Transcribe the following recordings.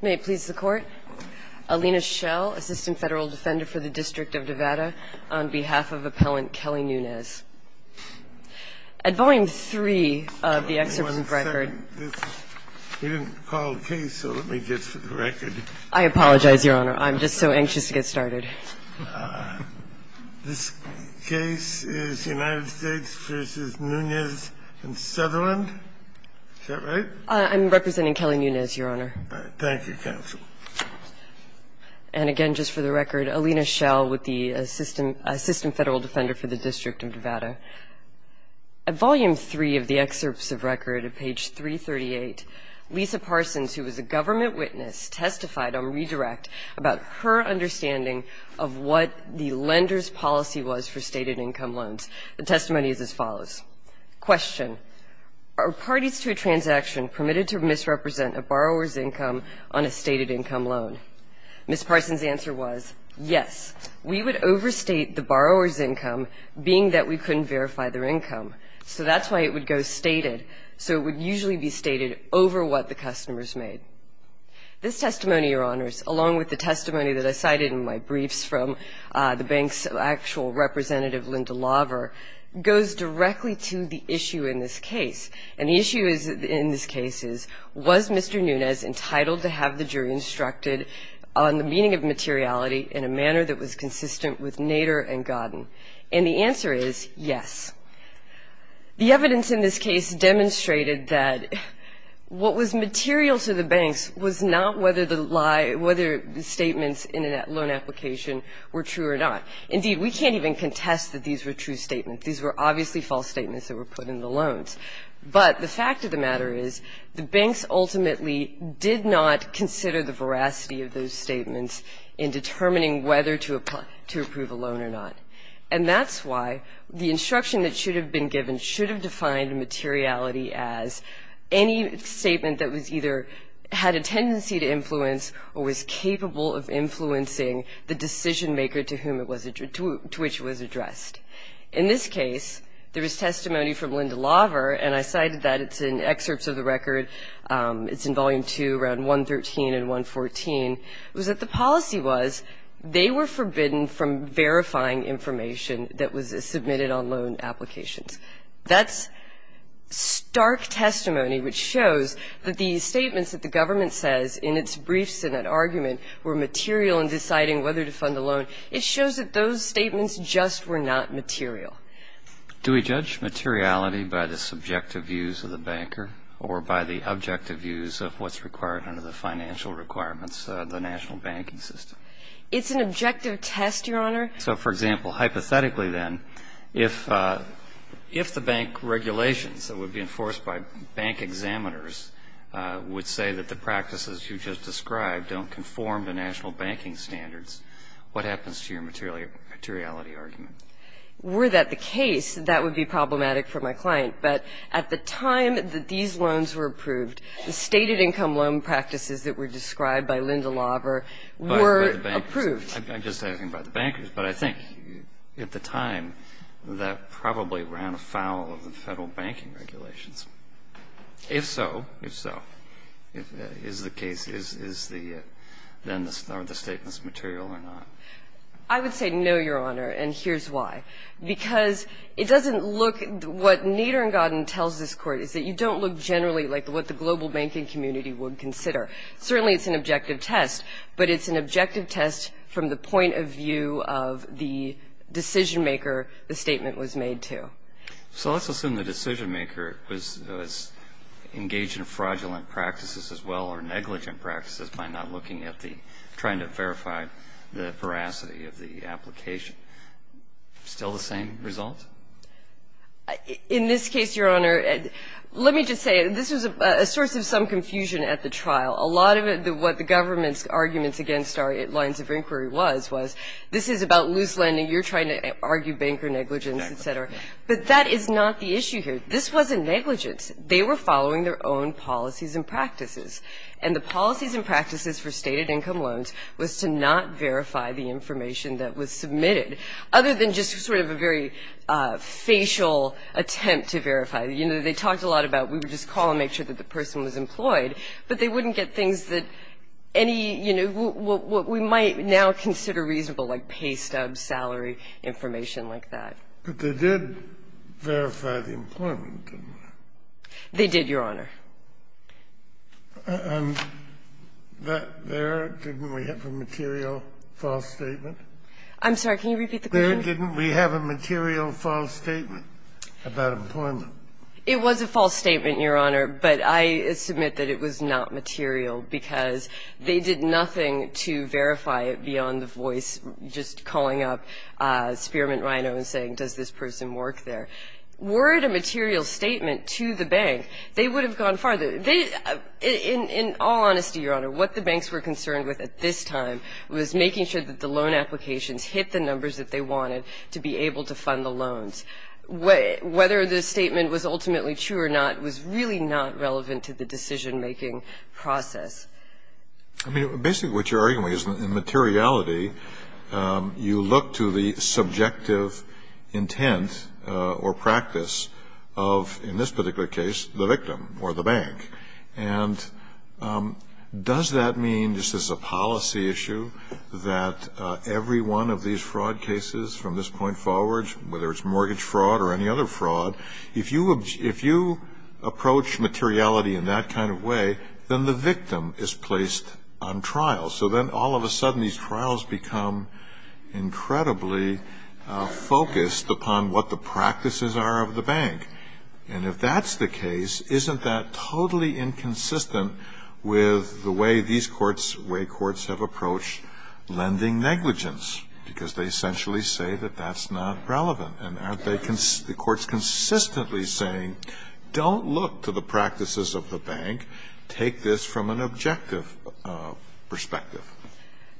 May it please the Court, Alina Schell, Assistant Federal Defender for the District of Nevada, on behalf of Appellant Kelly Nunes. At Volume 3 of the excerpt from the record. We didn't call the case, so let me get to the record. I apologize, Your Honor. I'm just so anxious to get started. This case is United States v. Nunes and Sutherland. Is that right? I'm representing Kelly Nunes, Your Honor. Thank you, counsel. And again, just for the record, Alina Schell with the Assistant Federal Defender for the District of Nevada. At Volume 3 of the excerpts of record at page 338, Lisa Parsons, who was a government witness, testified on redirect about her understanding of what the lender's policy was for stated income loans. The testimony is as follows. Question. Are parties to a transaction permitted to misrepresent a borrower's income on a stated income loan? Ms. Parsons' answer was, yes. We would overstate the borrower's income, being that we couldn't verify their income. So that's why it would go stated. So it would usually be stated over what the customer has made. This testimony, Your Honors, along with the testimony that I cited in my briefs from the bank's actual representative, Linda Laver, goes directly to the issue in this case. And the issue in this case is, was Mr. Nunes entitled to have the jury instructed on the meaning of materiality in a manner that was consistent with Nader and Godden? And the answer is, yes. The evidence in this case demonstrated that what was material to the banks was not whether the statements in that loan application were true or not. Indeed, we can't even contest that these were true statements. These were obviously false statements that were put in the loans. But the fact of the matter is the banks ultimately did not consider the veracity of those statements in determining whether to approve a loan or not. And that's why the instruction that should have been given should have defined materiality as any statement that either had a tendency to influence or was capable of influencing the decision-maker to which it was addressed. In this case, there is testimony from Linda Laver, and I cited that. It's in excerpts of the record. It's in Volume 2, around 113 and 114. It was that the policy was they were forbidden from verifying information that was submitted on loan applications. That's stark testimony which shows that the statements that the government says in its brief Senate argument were material in deciding whether to fund a loan, it shows that those statements just were not material. Do we judge materiality by the subjective views of the banker or by the objective views of what's required under the financial requirements of the national banking system? It's an objective test, Your Honor. So, for example, hypothetically, then, if the bank regulations that would be enforced by bank examiners would say that the practices you just described don't conform to national banking standards, what happens to your materiality argument? Were that the case, that would be problematic for my client. But at the time that these loans were approved, the stated income loan practices that were described by Linda Laver were approved. I'm just asking about the bankers, but I think at the time that probably ran afoul of the Federal banking regulations. If so, if so, is the case, is the, then, are the statements material or not? I would say no, Your Honor, and here's why. Because it doesn't look, what Nader and Godin tells this Court, is that you don't look generally like what the global banking community would consider. Certainly it's an objective test, but it's an objective test from the point of view of the decisionmaker the statement was made to. So let's assume the decisionmaker was engaged in fraudulent practices as well or negligent practices by not looking at the, trying to verify the veracity of the application. Still the same result? In this case, Your Honor, let me just say, this was a source of some confusion at the trial. A lot of what the government's arguments against our lines of inquiry was, was this is about loose lending, you're trying to argue banker negligence, et cetera. But that is not the issue here. This wasn't negligence. They were following their own policies and practices, and the policies and practices for stated income loans was to not verify the information that was submitted other than just sort of a very facial attempt to verify. You know, they talked a lot about we would just call and make sure that the person was employed, but they wouldn't get things that any, you know, what we might now consider reasonable, like pay stubs, salary, information like that. But they did verify the employment, didn't they? They did, Your Honor. And that there, didn't we have a material false statement? I'm sorry. Can you repeat the question? There didn't we have a material false statement about employment? It was a false statement, Your Honor, but I submit that it was not material because they did nothing to verify it beyond the voice just calling up Spearman Rino and saying, does this person work there? Were it a material statement to the bank, they would have gone farther. They, in all honesty, Your Honor, what the banks were concerned with at this time was making sure that the loan applications hit the numbers that they wanted to be able to fund the loans. And whether the statement was ultimately true or not was really not relevant to the decision-making process. I mean, basically what you're arguing is in materiality, you look to the subjective intent or practice of, in this particular case, the victim or the bank. And does that mean, just as a policy issue, that every one of these fraud cases from this point forward, whether it's mortgage fraud or any other fraud, if you approach materiality in that kind of way, then the victim is placed on trial. So then all of a sudden, these trials become incredibly focused upon what the practices are of the bank. And if that's the case, isn't that totally inconsistent with the way these courts, the way courts have approached lending negligence? Because they essentially say that that's not relevant. And aren't they the courts consistently saying, don't look to the practices of the bank, take this from an objective perspective?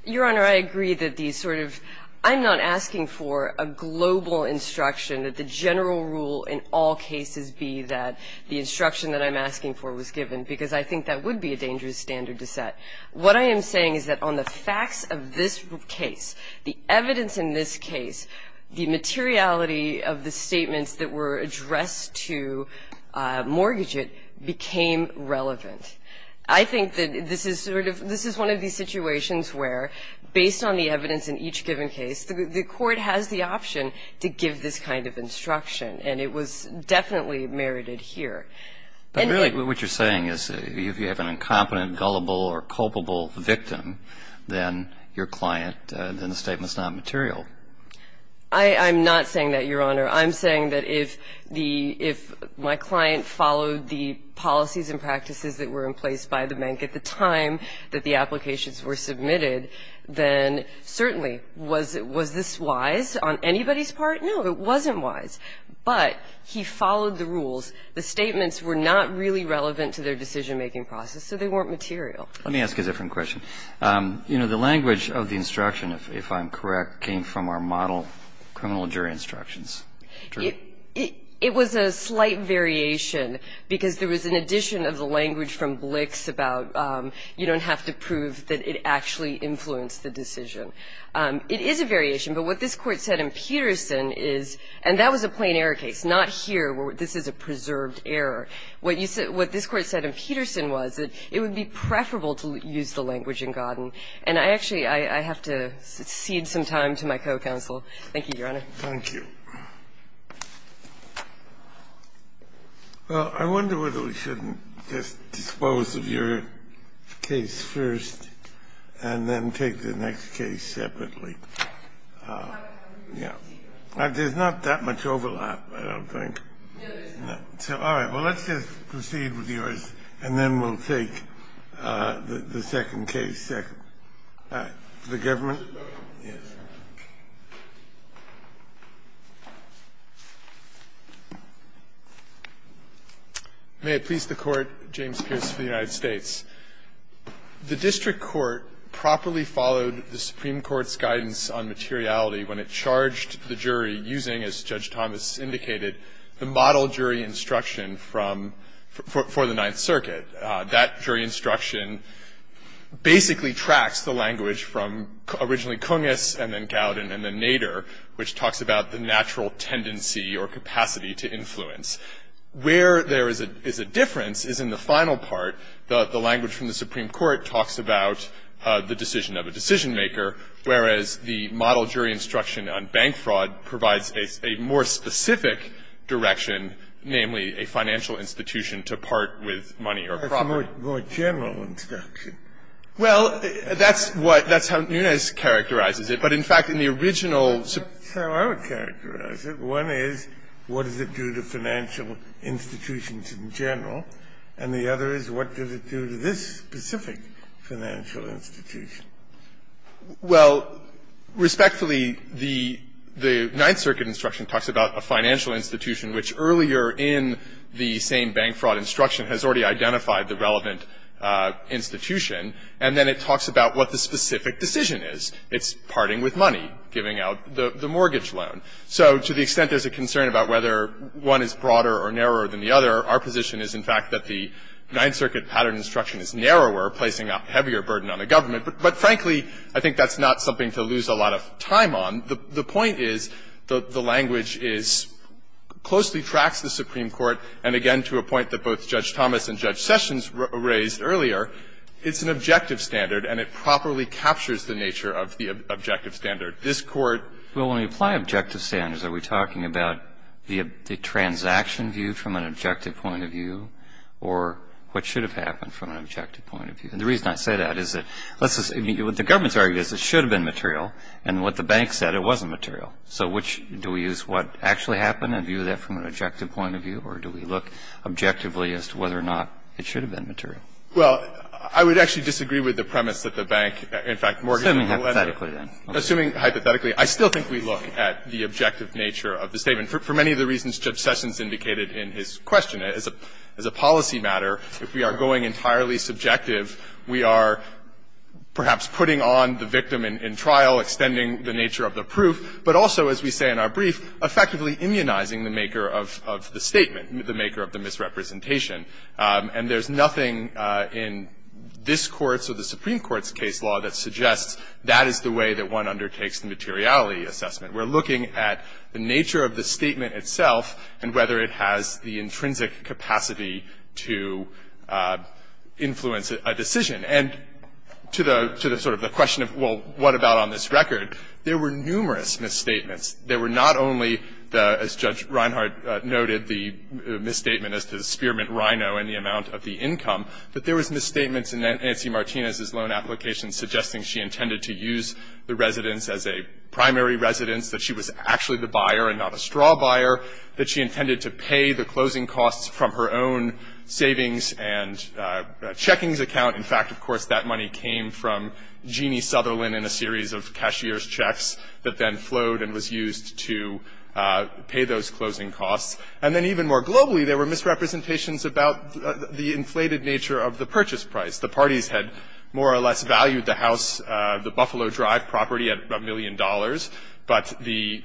Your Honor, I agree that these sort of, I'm not asking for a global instruction that the general rule in all cases be that the instruction that I'm asking for was given, because I think that would be a dangerous standard to set. What I am saying is that on the facts of this case, the evidence in this case, the materiality of the statements that were addressed to mortgage it became relevant. I think that this is sort of, this is one of these situations where, based on the evidence in each given case, the court has the option to give this kind of instruction. And it was definitely merited here. But really what you're saying is if you have an incompetent, gullible or culpable victim, then your client, then the statement's not material. I'm not saying that, Your Honor. I'm saying that if the, if my client followed the policies and practices that were in place by the bank at the time that the applications were submitted, then certainly was this wise on anybody's part? No, it wasn't wise. But he followed the rules. The statements were not really relevant to their decision-making process, so they weren't material. Let me ask you a different question. You know, the language of the instruction, if I'm correct, came from our model criminal jury instructions. True? It was a slight variation, because there was an addition of the language from Blix about you don't have to prove that it actually influenced the decision. It is a variation, but what this Court said in Peterson is, and that was a plain error case, not here where this is a preserved error. What you said, what this Court said in Peterson was that it would be preferable to use the language in Godden. And I actually, I have to cede some time to my co-counsel. Thank you, Your Honor. Thank you. Well, I wonder whether we shouldn't just dispose of your case first and then take the next case separately. There's not that much overlap, I don't think. All right. Well, let's just proceed with yours, and then we'll take the second case. The government? Yes. May it please the Court. James Pierce for the United States. The district court properly followed the Supreme Court's guidance on materiality when it charged the jury using, as Judge Thomas indicated, the model jury instruction from, for the Ninth Circuit. That jury instruction basically tracks the language from originally Cungus and then Godden and then Nader, which talks about the natural tendency or capacity to influence. Where there is a difference is in the final part. The language from the Supreme Court talks about the decision of a decision-maker, whereas the model jury instruction on bank fraud provides a more specific direction, namely a financial institution to part with money or property. That's a more general instruction. Well, that's what – that's how Nunes characterizes it. But in fact, in the original – That's how I would characterize it. One is, what does it do to financial institutions in general? And the other is, what does it do to this specific financial institution? Well, respectfully, the Ninth Circuit instruction talks about a financial institution which earlier in the same bank fraud instruction has already identified the relevant institution. And then it talks about what the specific decision is. It's parting with money, giving out the mortgage loan. So to the extent there's a concern about whether one is broader or narrower than the other, our position is, in fact, that the Ninth Circuit pattern instruction is narrower, placing a heavier burden on the government. But frankly, I think that's not something to lose a lot of time on. The point is the language is – closely tracks the Supreme Court, and again, to a point that both Judge Thomas and Judge Sessions raised earlier, it's an objective standard and it properly captures the nature of the objective standard. This Court – Well, when we apply objective standards, are we talking about the transaction view from an objective point of view or what should have happened from an objective point of view? And the reason I say that is that let's just – I mean, what the government's argument is, it should have been material, and what the bank said, it wasn't material. So which – do we use what actually happened and view that from an objective point of view, or do we look objectively as to whether or not it should have been material? Well, I would actually disagree with the premise that the bank, in fact, mortgaged the value of the statement. And the reason why I would say that is, assuming hypothetically, I still think we look at the objective nature of the statement. For many of the reasons Judge Sessions indicated in his question, as a policy matter, if we are going entirely subjective, we are perhaps putting on the victim in trial, extending the nature of the proof, but also, as we say in our brief, effectively immunizing the maker of the statement, the maker of the misrepresentation. And there's nothing in this Court's or the Supreme Court's case law that suggests that is the way that one undertakes the materiality assessment. We're looking at the nature of the statement itself and whether it has the intrinsic capacity to influence a decision. And to the sort of the question of, well, what about on this record, there were numerous misstatements. There were not only the, as Judge Reinhardt noted, the misstatement as to the Spearman and Reino and the amount of the income, but there was misstatements in Nancy Martinez's loan application suggesting she intended to use the residence as a primary residence, that she was actually the buyer and not a straw buyer, that she intended to pay the closing costs from her own savings and checkings account. In fact, of course, that money came from Jeannie Sutherland in a series of cashier's checks that then flowed and was used to pay those closing costs. And then even more globally, there were misrepresentations about the inflated nature of the purchase price. The parties had more or less valued the house, the Buffalo Drive property at a million dollars, but the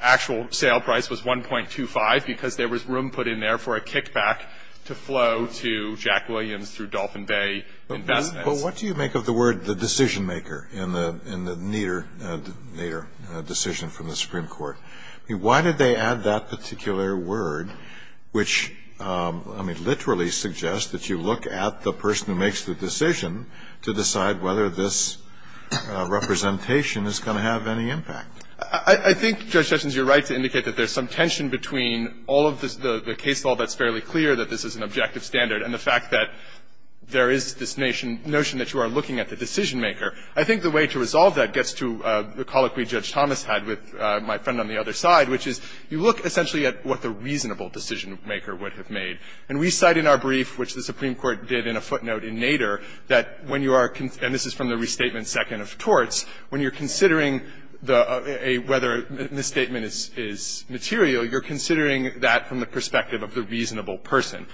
actual sale price was 1.25 because there was room put in there for a kickback to flow to Jack Williams through Dolphin Bay Investments. But what do you make of the word the decision maker in the Nader decision from the Supreme Court? Why did they add that particular word, which, I mean, literally suggests that you look at the person who makes the decision to decide whether this representation is going to have any impact? I think, Judge Hutchins, you're right to indicate that there's some tension between all of the case law that's fairly clear, that this is an objective standard, and the fact that there is this notion that you are looking at the decision maker. I think the way to resolve that gets to the colloquy Judge Thomas had with my friend on the other side, which is you look essentially at what the reasonable decision maker would have made. And we cite in our brief, which the Supreme Court did in a footnote in Nader, that when you are concerned, and this is from the restatement second of torts, when you're considering the – whether a misstatement is material, you're considering that from the perspective of the reasonable person.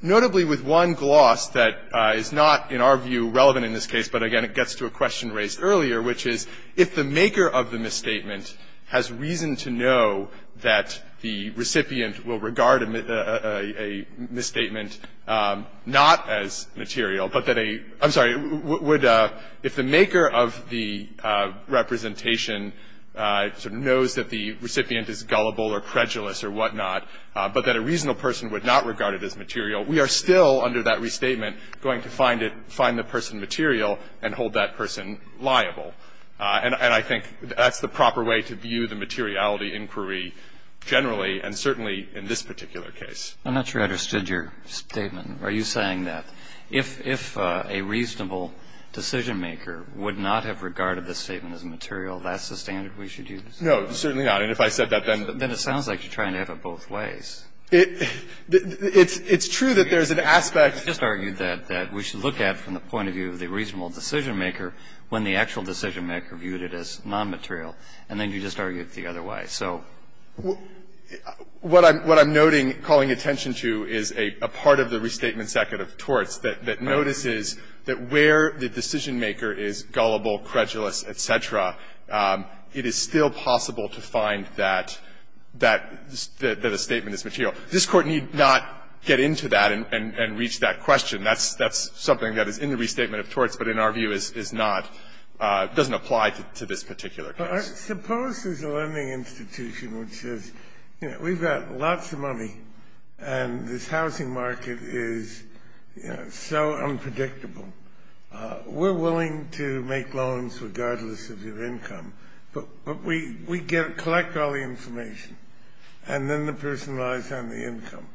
Notably, with one gloss that is not, in our view, relevant in this case, but again, it gets to a question raised earlier, which is if the maker of the misstatement has reason to know that the recipient will regard a misstatement not as material, but that a – I'm sorry, would – if the maker of the representation sort of knows that the recipient is gullible or prejudice or whatnot, but that a reasonable person would not regard it as material, we are still, under that restatement, going to find it – find the person material and hold that person liable. And I think that's the proper way to view the materiality inquiry generally and certainly in this particular case. Kennedy. I'm not sure I understood your statement. Are you saying that if a reasonable decisionmaker would not have regarded the statement as material, that's the standard we should use? No, certainly not. And if I said that, then the – Then it sounds like you're trying to have it both ways. It's true that there's an aspect – You just argued that we should look at from the point of view of the reasonable decisionmaker when the actual decisionmaker viewed it as nonmaterial. And then you just argued the other way. So – What I'm noting, calling attention to, is a part of the restatement second of Torts that notices that where the decisionmaker is gullible, credulous, et cetera, it is still possible to find that that – that a statement is material. This Court need not get into that and reach that question. That's – that's something that is in the restatement of Torts, but in our view is not – doesn't apply to this particular case. Suppose there's a lending institution which says, you know, we've got lots of money and this housing market is, you know, so unpredictable. We're willing to make loans regardless of your income. But we get – collect all the information. And then the person relies on the income.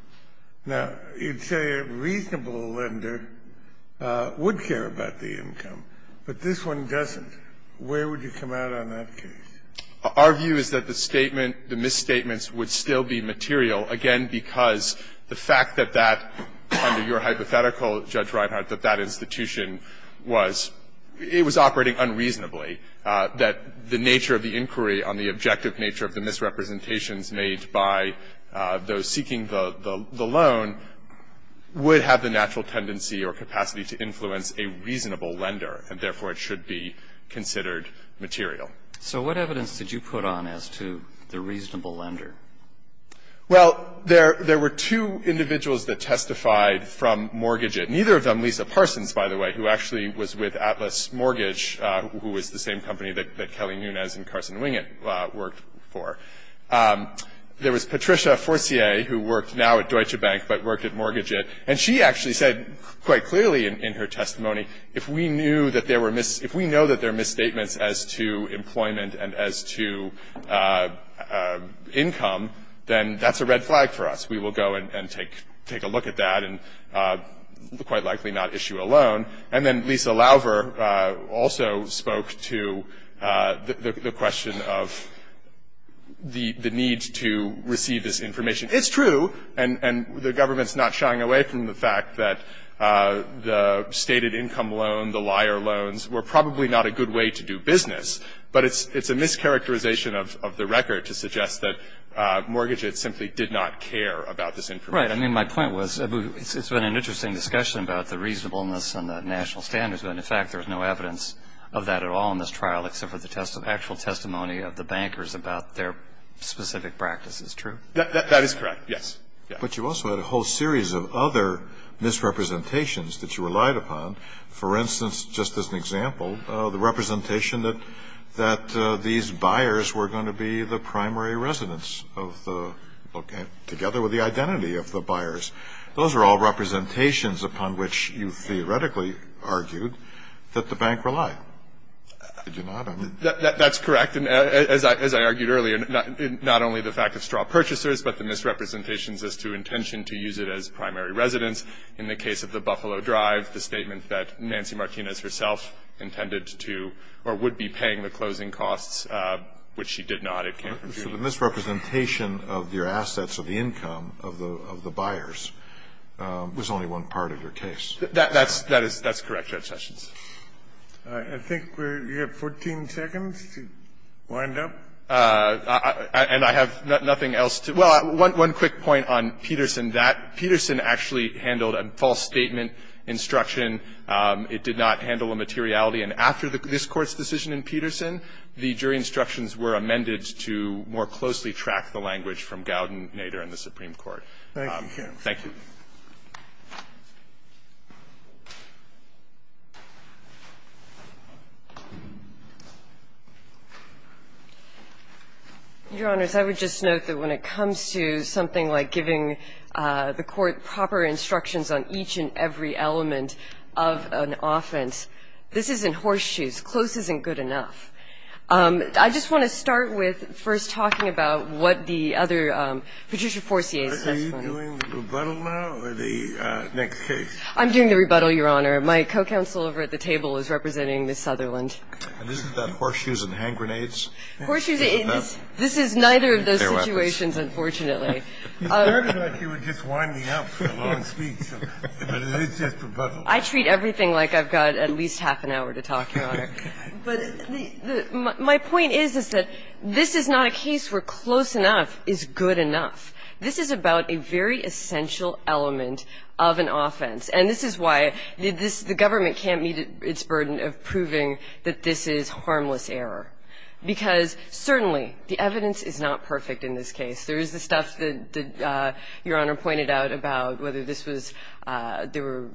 Now, you'd say a reasonable lender would care about the income, but this one doesn't. Where would you come out on that case? Our view is that the statement – the misstatements would still be material, again, because the fact that that – under your hypothetical, Judge Reinhart, that that institution was – it was operating unreasonably, that the nature of the inquiry on the objective nature of the misrepresentations made by those seeking the – the loan would have the natural tendency or capacity to influence a reasonable lender, and therefore it should be considered material. So what evidence did you put on as to the reasonable lender? Well, there – there were two individuals that testified from mortgages. Neither of them – Lisa Parsons, by the way, who actually was with Atlas Mortgage, who was the same company that – that Kelly Nunez and Carson Wingett worked for. There was Patricia Forcier, who worked now at Deutsche Bank, but worked at Mortgage-It. And she actually said quite clearly in her testimony, if we knew that there were – if we know that there are misstatements as to employment and as to income, then that's a red flag for us. We will go and take – take a look at that, and quite likely not issue a loan. And then Lisa Lauver also spoke to the question of the – the need to receive this information. It's true, and the government's not shying away from the fact that the stated income loan, the liar loans, were probably not a good way to do business. But it's a mischaracterization of the record to suggest that Mortgage-It simply did not care about this information. Right. I mean, my point was it's been an interesting discussion about the reasonableness and the national standards. But in fact, there's no evidence of that at all in this trial except for the actual testimony of the bankers about their specific practices. True? That is correct. Yes. But you also had a whole series of other misrepresentations that you relied upon. For instance, just as an example, the representation that – that these buyers were going to be the primary residents of the – together with the identity of the buyers. Those are all representations upon which you theoretically argued that the bank relied. Did you not? That's correct. And as I – as I argued earlier, not only the fact of straw purchasers, but the misrepresentations as to intention to use it as primary residence. In the case of the Buffalo Drive, the statement that Nancy Martinez herself intended to – or would be paying the closing costs, which she did not. It came from me. But the misrepresentation of your assets or the income of the – of the buyers was only one part of your case. That's – that is – that's correct, Judge Sessions. I think we have 14 seconds to wind up. And I have nothing else to – well, one quick point on Peterson. That – Peterson actually handled a false statement instruction. It did not handle a materiality. And after this Court's decision in Peterson, the jury instructions were amended to more closely track the language from Gowden, Nader, and the Supreme Court. Thank you. Thank you. Your Honors, I would just note that when it comes to something like giving the Court instructions on each and every element of an offense, this isn't horseshoes. Close isn't good enough. I just want to start with first talking about what the other – Patricia Forcier's testimony. Are you doing the rebuttal now or the next case? I'm doing the rebuttal, Your Honor. My co-counsel over at the table is representing Ms. Sutherland. And this is about horseshoes and hand grenades? Horseshoes – this is neither of those situations, unfortunately. You started like you were just winding me up for a long speech. But it's just rebuttal. I treat everything like I've got at least half an hour to talk, Your Honor. But my point is, is that this is not a case where close enough is good enough. This is about a very essential element of an offense. And this is why the government can't meet its burden of proving that this is harmless error. Because, certainly, the evidence is not perfect in this case. There is the stuff that Your Honor pointed out about whether this was – there were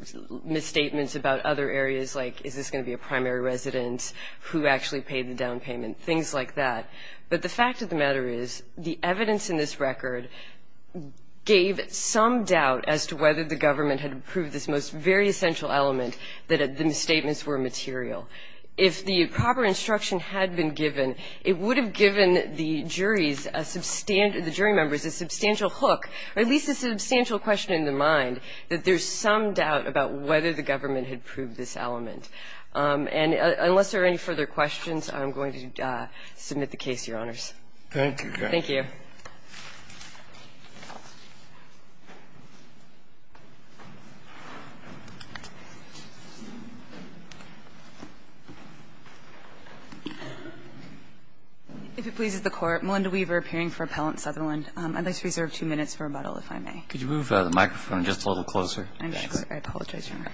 misstatements about other areas, like is this going to be a primary resident who actually paid the down payment, things like that. But the fact of the matter is the evidence in this record gave some doubt as to whether the government had proved this most very essential element, that the misstatements were material. If the proper instruction had been given, it would have given the juries a substantive – the jury members a substantial hook or at least a substantial question in their mind that there's some doubt about whether the government had proved this element. And unless there are any further questions, I'm going to submit the case, Your Honors. Thank you. Thank you. If it pleases the Court, Melinda Weaver, appearing for Appellant Sutherland. I'd like to reserve two minutes for rebuttal, if I may. Could you move the microphone just a little closer? I'm sorry. I apologize, Your Honor.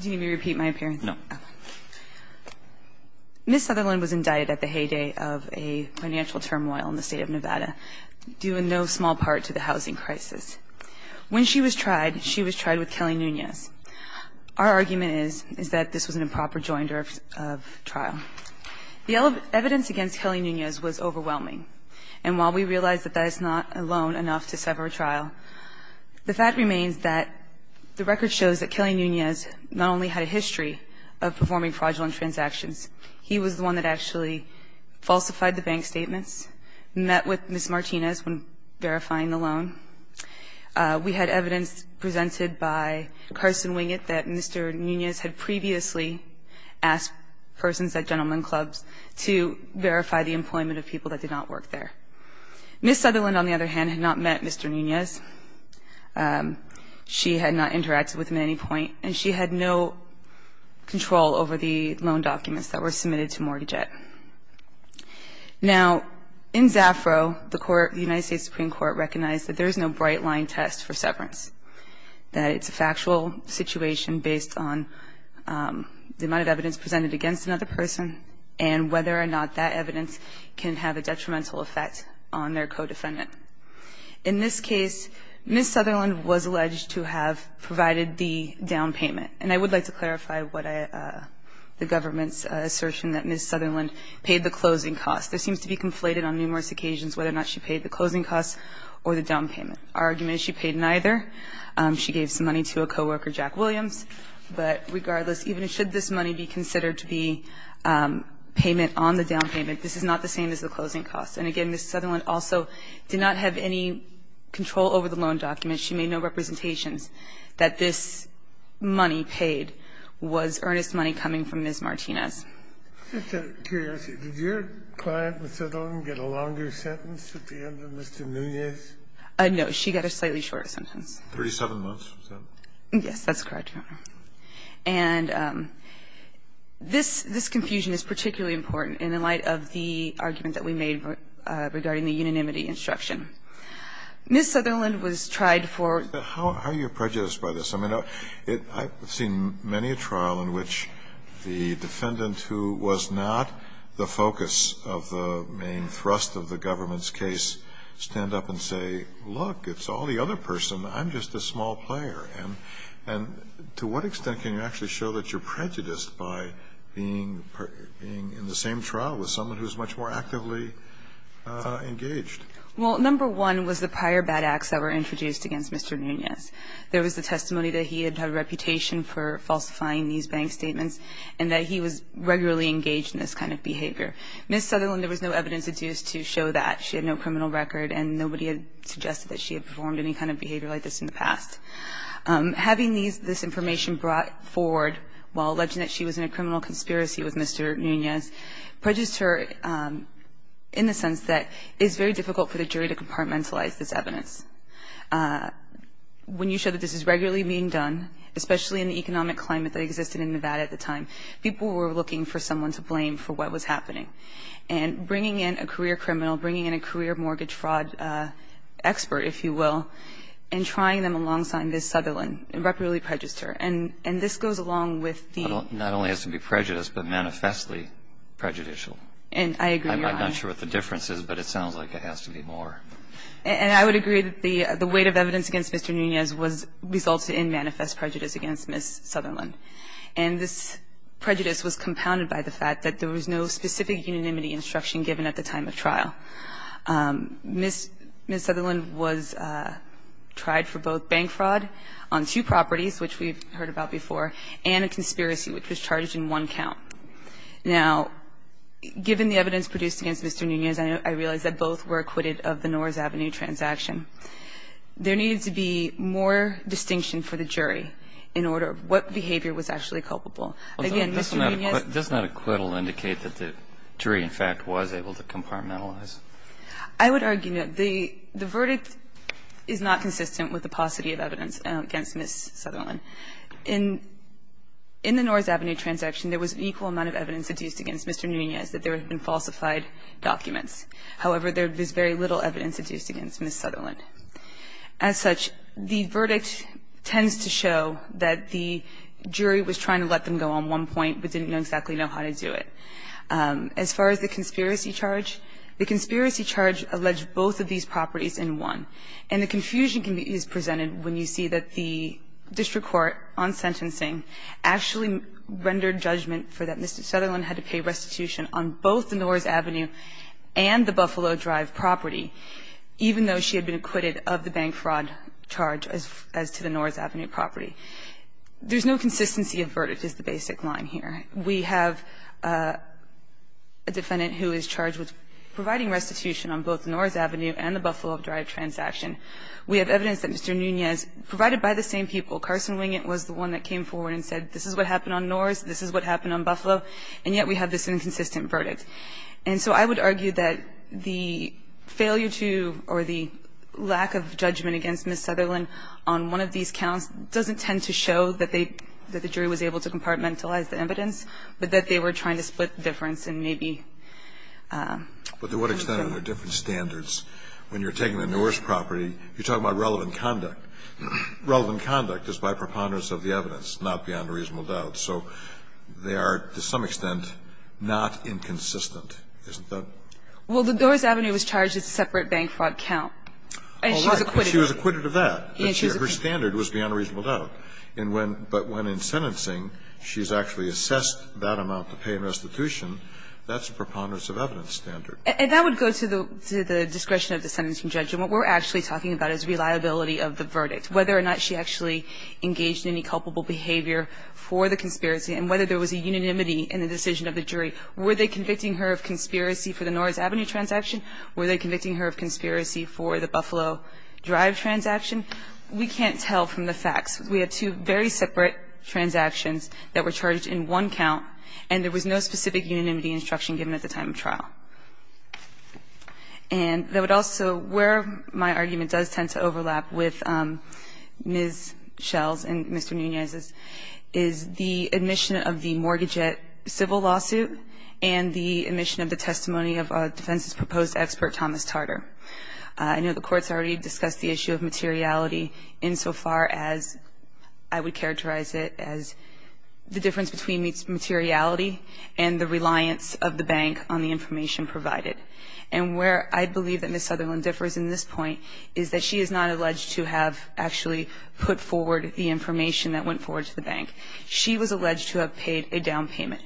Do you need me to repeat my appearance? No. Ms. Sutherland was indicted at the heyday of a financial turmoil in the State of Nevada due in no small part to the housing crisis. When she was tried, she was tried with Kelly Nunez. Our argument is, is that this was an improper joinder of trial. The evidence against Kelly Nunez was overwhelming. And while we realize that that is not alone enough to sever a trial, the fact remains that the record shows that Kelly Nunez not only had a history of performing fraudulent transactions. He was the one that actually falsified the bank statements, met with Ms. Martinez when verifying the loan. We had evidence presented by Carson Wingett that Mr. Nunez had previously asked persons at gentleman clubs to verify the employment of people that did not work there. Ms. Sutherland, on the other hand, had not met Mr. Nunez. She had not interacted with him at any point, and she had no control over the loan documents that were submitted to Mortage Act. Now, in Zafro, the court, the United States Supreme Court recognized that there is no bright-line test for severance, that it's a factual situation based on the amount of evidence presented against another person and whether or not that evidence can have a detrimental effect on their co-defendant. In this case, Ms. Sutherland was alleged to have provided the down payment. And I would like to clarify the government's assertion that Ms. Sutherland paid the closing cost. This seems to be conflated on numerous occasions, whether or not she paid the closing cost or the down payment. Our argument is she paid neither. She gave some money to a co-worker, Jack Williams. But regardless, even should this money be considered to be payment on the down payment cost. And again, Ms. Sutherland also did not have any control over the loan documents. She made no representations that this money paid was earnest money coming from Ms. Martinez. Kennedy, did your client, Ms. Sutherland, get a longer sentence at the end of Mr. Nunez? No. She got a slightly shorter sentence. Yes, that's correct, Your Honor. And this confusion is particularly important in the light of the argument that we made regarding the unanimity instruction. Ms. Sutherland was tried for. How are you prejudiced by this? I mean, I've seen many a trial in which the defendant who was not the focus of the main thrust of the government's case stand up and say, look, it's all the other person. I'm just a small player. And to what extent can you actually show that you're prejudiced by being in the same trial with someone who's much more actively engaged? Well, number one was the prior bad acts that were introduced against Mr. Nunez. There was the testimony that he had had a reputation for falsifying these bank statements and that he was regularly engaged in this kind of behavior. Ms. Sutherland, there was no evidence to show that. She had no criminal record and nobody had suggested that she had performed any kind of behavior like this in the past. Having this information brought forward while alleging that she was in a criminal conspiracy with Mr. Nunez prejudiced her in the sense that it's very difficult for the jury to compartmentalize this evidence. When you show that this is regularly being done, especially in the economic climate that existed in Nevada at the time, people were looking for someone to blame for what was happening. And bringing in a career criminal, bringing in a career mortgage fraud expert, if you will, and trying them alongside Ms. Sutherland, irreparably prejudiced her. And this goes along with the ---- Not only has to be prejudiced, but manifestly prejudicial. And I agree. I'm not sure what the difference is, but it sounds like it has to be more. And I would agree that the weight of evidence against Mr. Nunez resulted in manifest prejudice against Ms. Sutherland. And this prejudice was compounded by the fact that there was no specific unanimity instruction given at the time of trial. Ms. Sutherland was tried for both bank fraud on two properties, which we've heard about before, and a conspiracy, which was charged in one count. Now, given the evidence produced against Mr. Nunez, I realize that both were acquitted of the Norris Avenue transaction. There needs to be more distinction for the jury in order of what behavior was actually culpable. Again, Mr. Nunez ---- The jury, in fact, was able to compartmentalize. I would argue that the verdict is not consistent with the paucity of evidence against Ms. Sutherland. In the Norris Avenue transaction, there was an equal amount of evidence adduced against Mr. Nunez that there had been falsified documents. However, there is very little evidence adduced against Ms. Sutherland. As such, the verdict tends to show that the jury was trying to let them go on one point, but didn't know exactly how to do it. As far as the conspiracy charge, the conspiracy charge alleged both of these properties in one. And the confusion is presented when you see that the district court on sentencing actually rendered judgment for that Ms. Sutherland had to pay restitution on both the Norris Avenue and the Buffalo Drive property, even though she had been acquitted of the bank fraud charge as to the Norris Avenue property. There's no consistency of verdict is the basic line here. We have a defendant who is charged with providing restitution on both Norris Avenue and the Buffalo Drive transaction. We have evidence that Mr. Nunez, provided by the same people, Carson Wingett was the one that came forward and said this is what happened on Norris, this is what happened on Buffalo, and yet we have this inconsistent verdict. And so I would argue that the failure to or the lack of judgment against Ms. Sutherland on one of these counts doesn't tend to show that they the jury was able to compartmentalize the evidence, but that they were trying to split the difference and maybe. But to what extent are there different standards when you're taking the Norris property? You're talking about relevant conduct. Relevant conduct is by preponderance of the evidence, not beyond a reasonable doubt. So they are to some extent not inconsistent, isn't that? Well, the Norris Avenue was charged as a separate bank fraud count. And she was acquitted. She was acquitted of that. Her standard was beyond a reasonable doubt. But when in sentencing, she's actually assessed that amount to pay in restitution, that's a preponderance of evidence standard. And that would go to the discretion of the sentencing judge. And what we're actually talking about is reliability of the verdict, whether or not she actually engaged in any culpable behavior for the conspiracy and whether there was a unanimity in the decision of the jury. Were they convicting her of conspiracy for the Norris Avenue transaction? Were they convicting her of conspiracy for the Buffalo Drive transaction? We can't tell from the facts. We had two very separate transactions that were charged in one count. And there was no specific unanimity instruction given at the time of trial. And that would also – where my argument does tend to overlap with Ms. Schell's and Mr. Nunez's is the admission of the mortgage at civil lawsuit and the admission of the testimony of defense's proposed expert, Thomas Tarter. I know the court's already discussed the issue of materiality insofar as I would characterize it as the difference between materiality and the reliance of the bank on the information provided. And where I believe that Ms. Sutherland differs in this point is that she is not alleged to have actually put forward the information that went forward to the bank. She was alleged to have paid a down payment.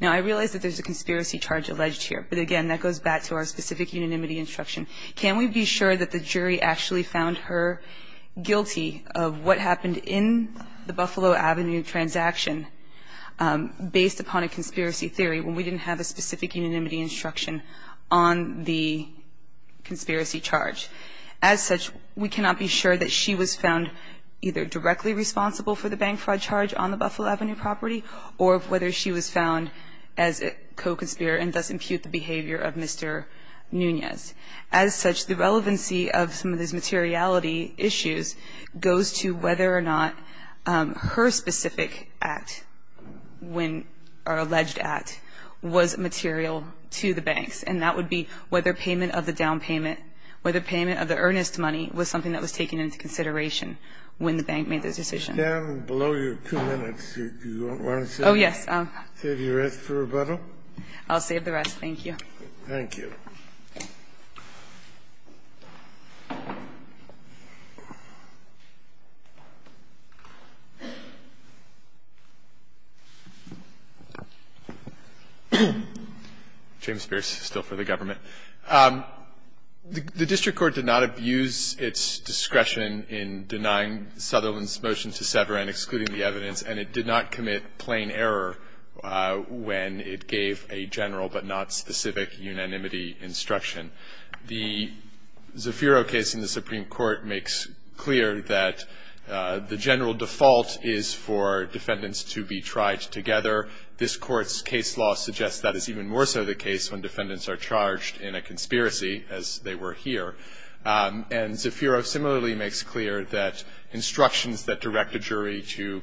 Now, I realize that there's a conspiracy charge alleged here. But again, that goes back to our specific unanimity instruction. Can we be sure that the jury actually found her guilty of what happened in the Buffalo Avenue transaction based upon a conspiracy theory when we didn't have a specific unanimity instruction on the conspiracy charge? As such, we cannot be sure that she was found either directly responsible for the bank fraud charge on the Buffalo Avenue property or whether she was found as a co-conspirator and thus impute the behavior of Mr. Nunez. As such, the relevancy of some of these materiality issues goes to whether or not her specific act when or alleged act was material to the banks. And that would be whether payment of the down payment, whether payment of the earnest money was something that was taken into consideration when the bank made the decision. Kennedy, below your two minutes, do you want to save your rest for rebuttal? I'll save the rest. Thank you. Thank you. James Spears, still for the government. The district court did not abuse its discretion in denying Sutherland's motion to sever and excluding the evidence, and it did not commit plain error when it gave a general but not specific unanimity instruction. The Zafiro case in the Supreme Court makes clear that the general default is for defendants to be tried together. This court's case law suggests that is even more so the case when defendants are charged in a conspiracy, as they were here. And Zafiro similarly makes clear that instructions that direct a jury to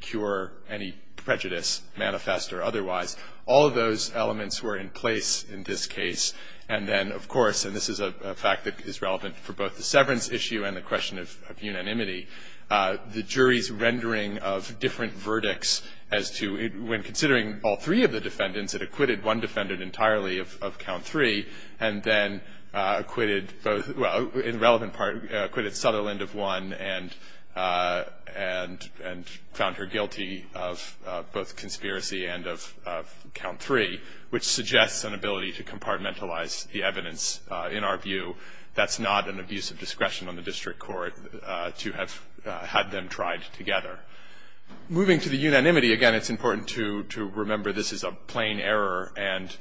cure any prejudice manifest or otherwise. All of those elements were in place in this case. And then, of course, and this is a fact that is relevant for both the severance issue and the question of unanimity, the jury's rendering of different verdicts as to when considering all three of the defendants, it acquitted one defendant entirely of count three and then acquitted both, well, in relevant part, acquitted Sutherland of one and Sutherland of two. Found her guilty of both conspiracy and of count three, which suggests an ability to compartmentalize the evidence in our view. That's not an abuse of discretion on the district court to have had them tried together. Moving to the unanimity, again, it's important to remember this is a plain error and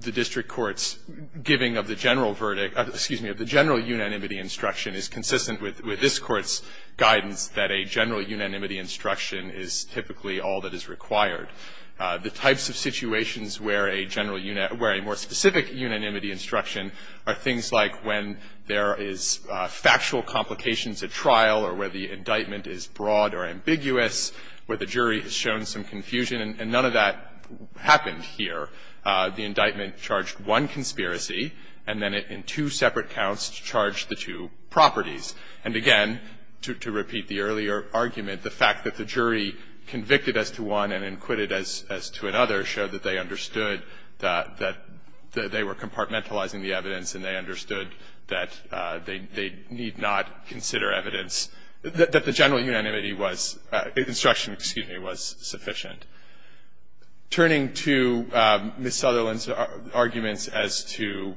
the district court's giving of the general verdict, excuse me, of the general unanimity instruction is consistent with this Court's guidance that a general unanimity instruction is typically all that is required. The types of situations where a general unit, where a more specific unanimity instruction are things like when there is factual complications at trial or where the indictment is broad or ambiguous, where the jury has shown some confusion, and none of that happened here. The indictment charged one conspiracy and then in two separate counts charged the two properties. And again, to repeat the earlier argument, the fact that the jury convicted as to one and acquitted as to another showed that they understood that they were compartmentalizing the evidence and they understood that they need not consider evidence, that the general unanimity was, instruction, excuse me, was sufficient. Turning to Ms. Sutherland's arguments as to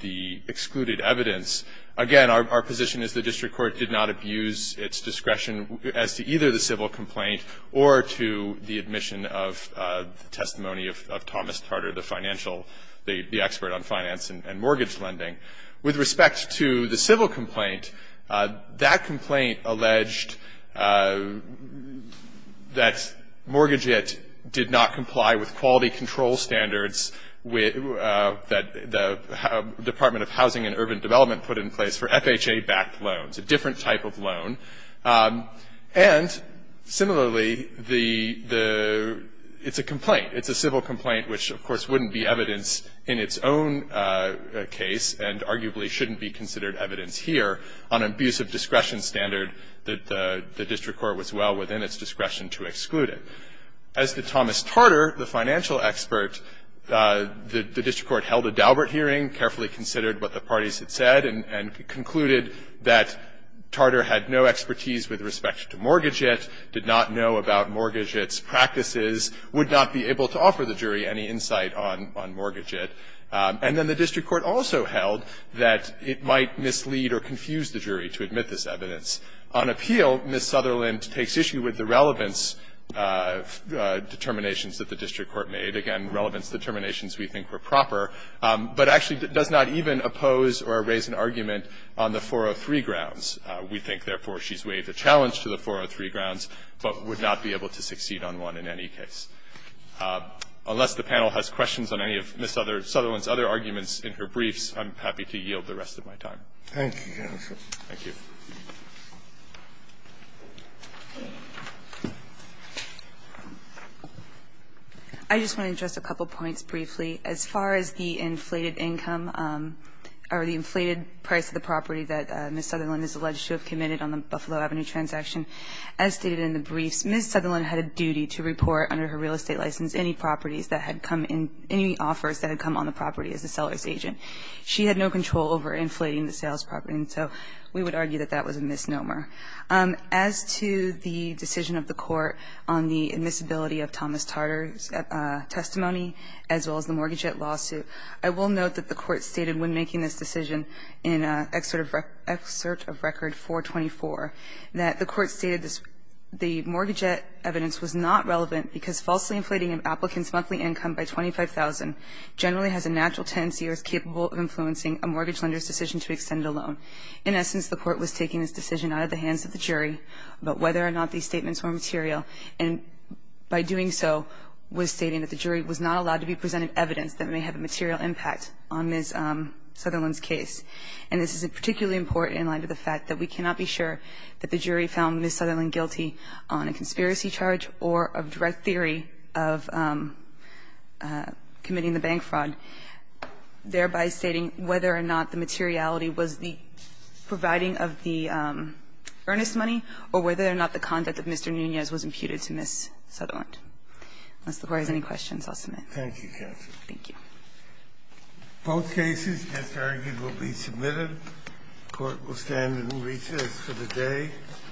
the excluded evidence, again, our position is the district court did not abuse its discretion as to either the civil complaint or to the admission of the testimony of Thomas Tarter, the financial, the expert on finance and mortgage lending. With respect to the civil complaint, that complaint alleged that mortgage-ed did not comply with quality control standards that the Department of Housing and Urban Development put in place for FHA-backed loans, a different type of loan. And similarly, it's a complaint. It's a civil complaint, which, of course, wouldn't be evidence in its own case and arguably shouldn't be considered evidence here on abuse of discretion standard that the district court was well within its discretion to exclude it. As to Thomas Tarter, the financial expert, the district court held a Daubert hearing, carefully considered what the parties had said, and concluded that Tarter had no expertise with respect to mortgage-ed, did not know about mortgage-ed's practices, would not be able to offer the jury any insight on mortgage-ed. And then the district court also held that it might mislead or confuse the jury to admit this evidence. On appeal, Ms. Sutherland takes issue with the relevance determinations that the district court made, again, relevance determinations we think were proper, but actually does not even oppose or raise an argument on the 403 grounds. We think, therefore, she's weighed the challenge to the 403 grounds, but would not be able to succeed on one in any case. Unless the panel has questions on any of Ms. Sutherland's other arguments in her briefs, I'm happy to yield the rest of my time. Thank you, Your Honor. Thank you. I just want to address a couple points briefly. As far as the inflated income or the inflated price of the property that Ms. Sutherland is alleged to have committed on the Buffalo Avenue transaction, as stated in the briefs, Ms. Sutherland had a duty to report under her real estate license any properties that had come in, any offers that had come on the property as a seller's agent. She had no control over inflating the sales property, and so we would argue that that was a misnomer. As to the decision of the Court on the admissibility of Thomas Tartar's testimony as well as the mortgage debt lawsuit, I will note that the Court stated when making this decision in Excerpt of Record 424 that the Court stated the mortgage debt evidence was not relevant because falsely inflating an applicant's monthly income by $25,000 generally has a natural tendency or is capable of influencing a mortgage lender's decision to extend a loan. In essence, the Court was taking this decision out of the hands of the jury about whether or not these statements were material, and by doing so was stating that the jury was not allowed to be presented evidence that may have a material impact on Ms. Sutherland's case. And this is particularly important in light of the fact that we cannot be sure that the jury found Ms. Sutherland guilty on a conspiracy charge or a direct theory of committing the bank fraud, thereby stating whether or not the materiality was the providing of the earnest money or whether or not the conduct of Mr. Nunez was imputed to Ms. Sutherland. Unless the Court has any questions, I'll submit. Thank you, counsel. Thank you. Both cases, as argued, will be submitted. The Court will stand in recess for the day.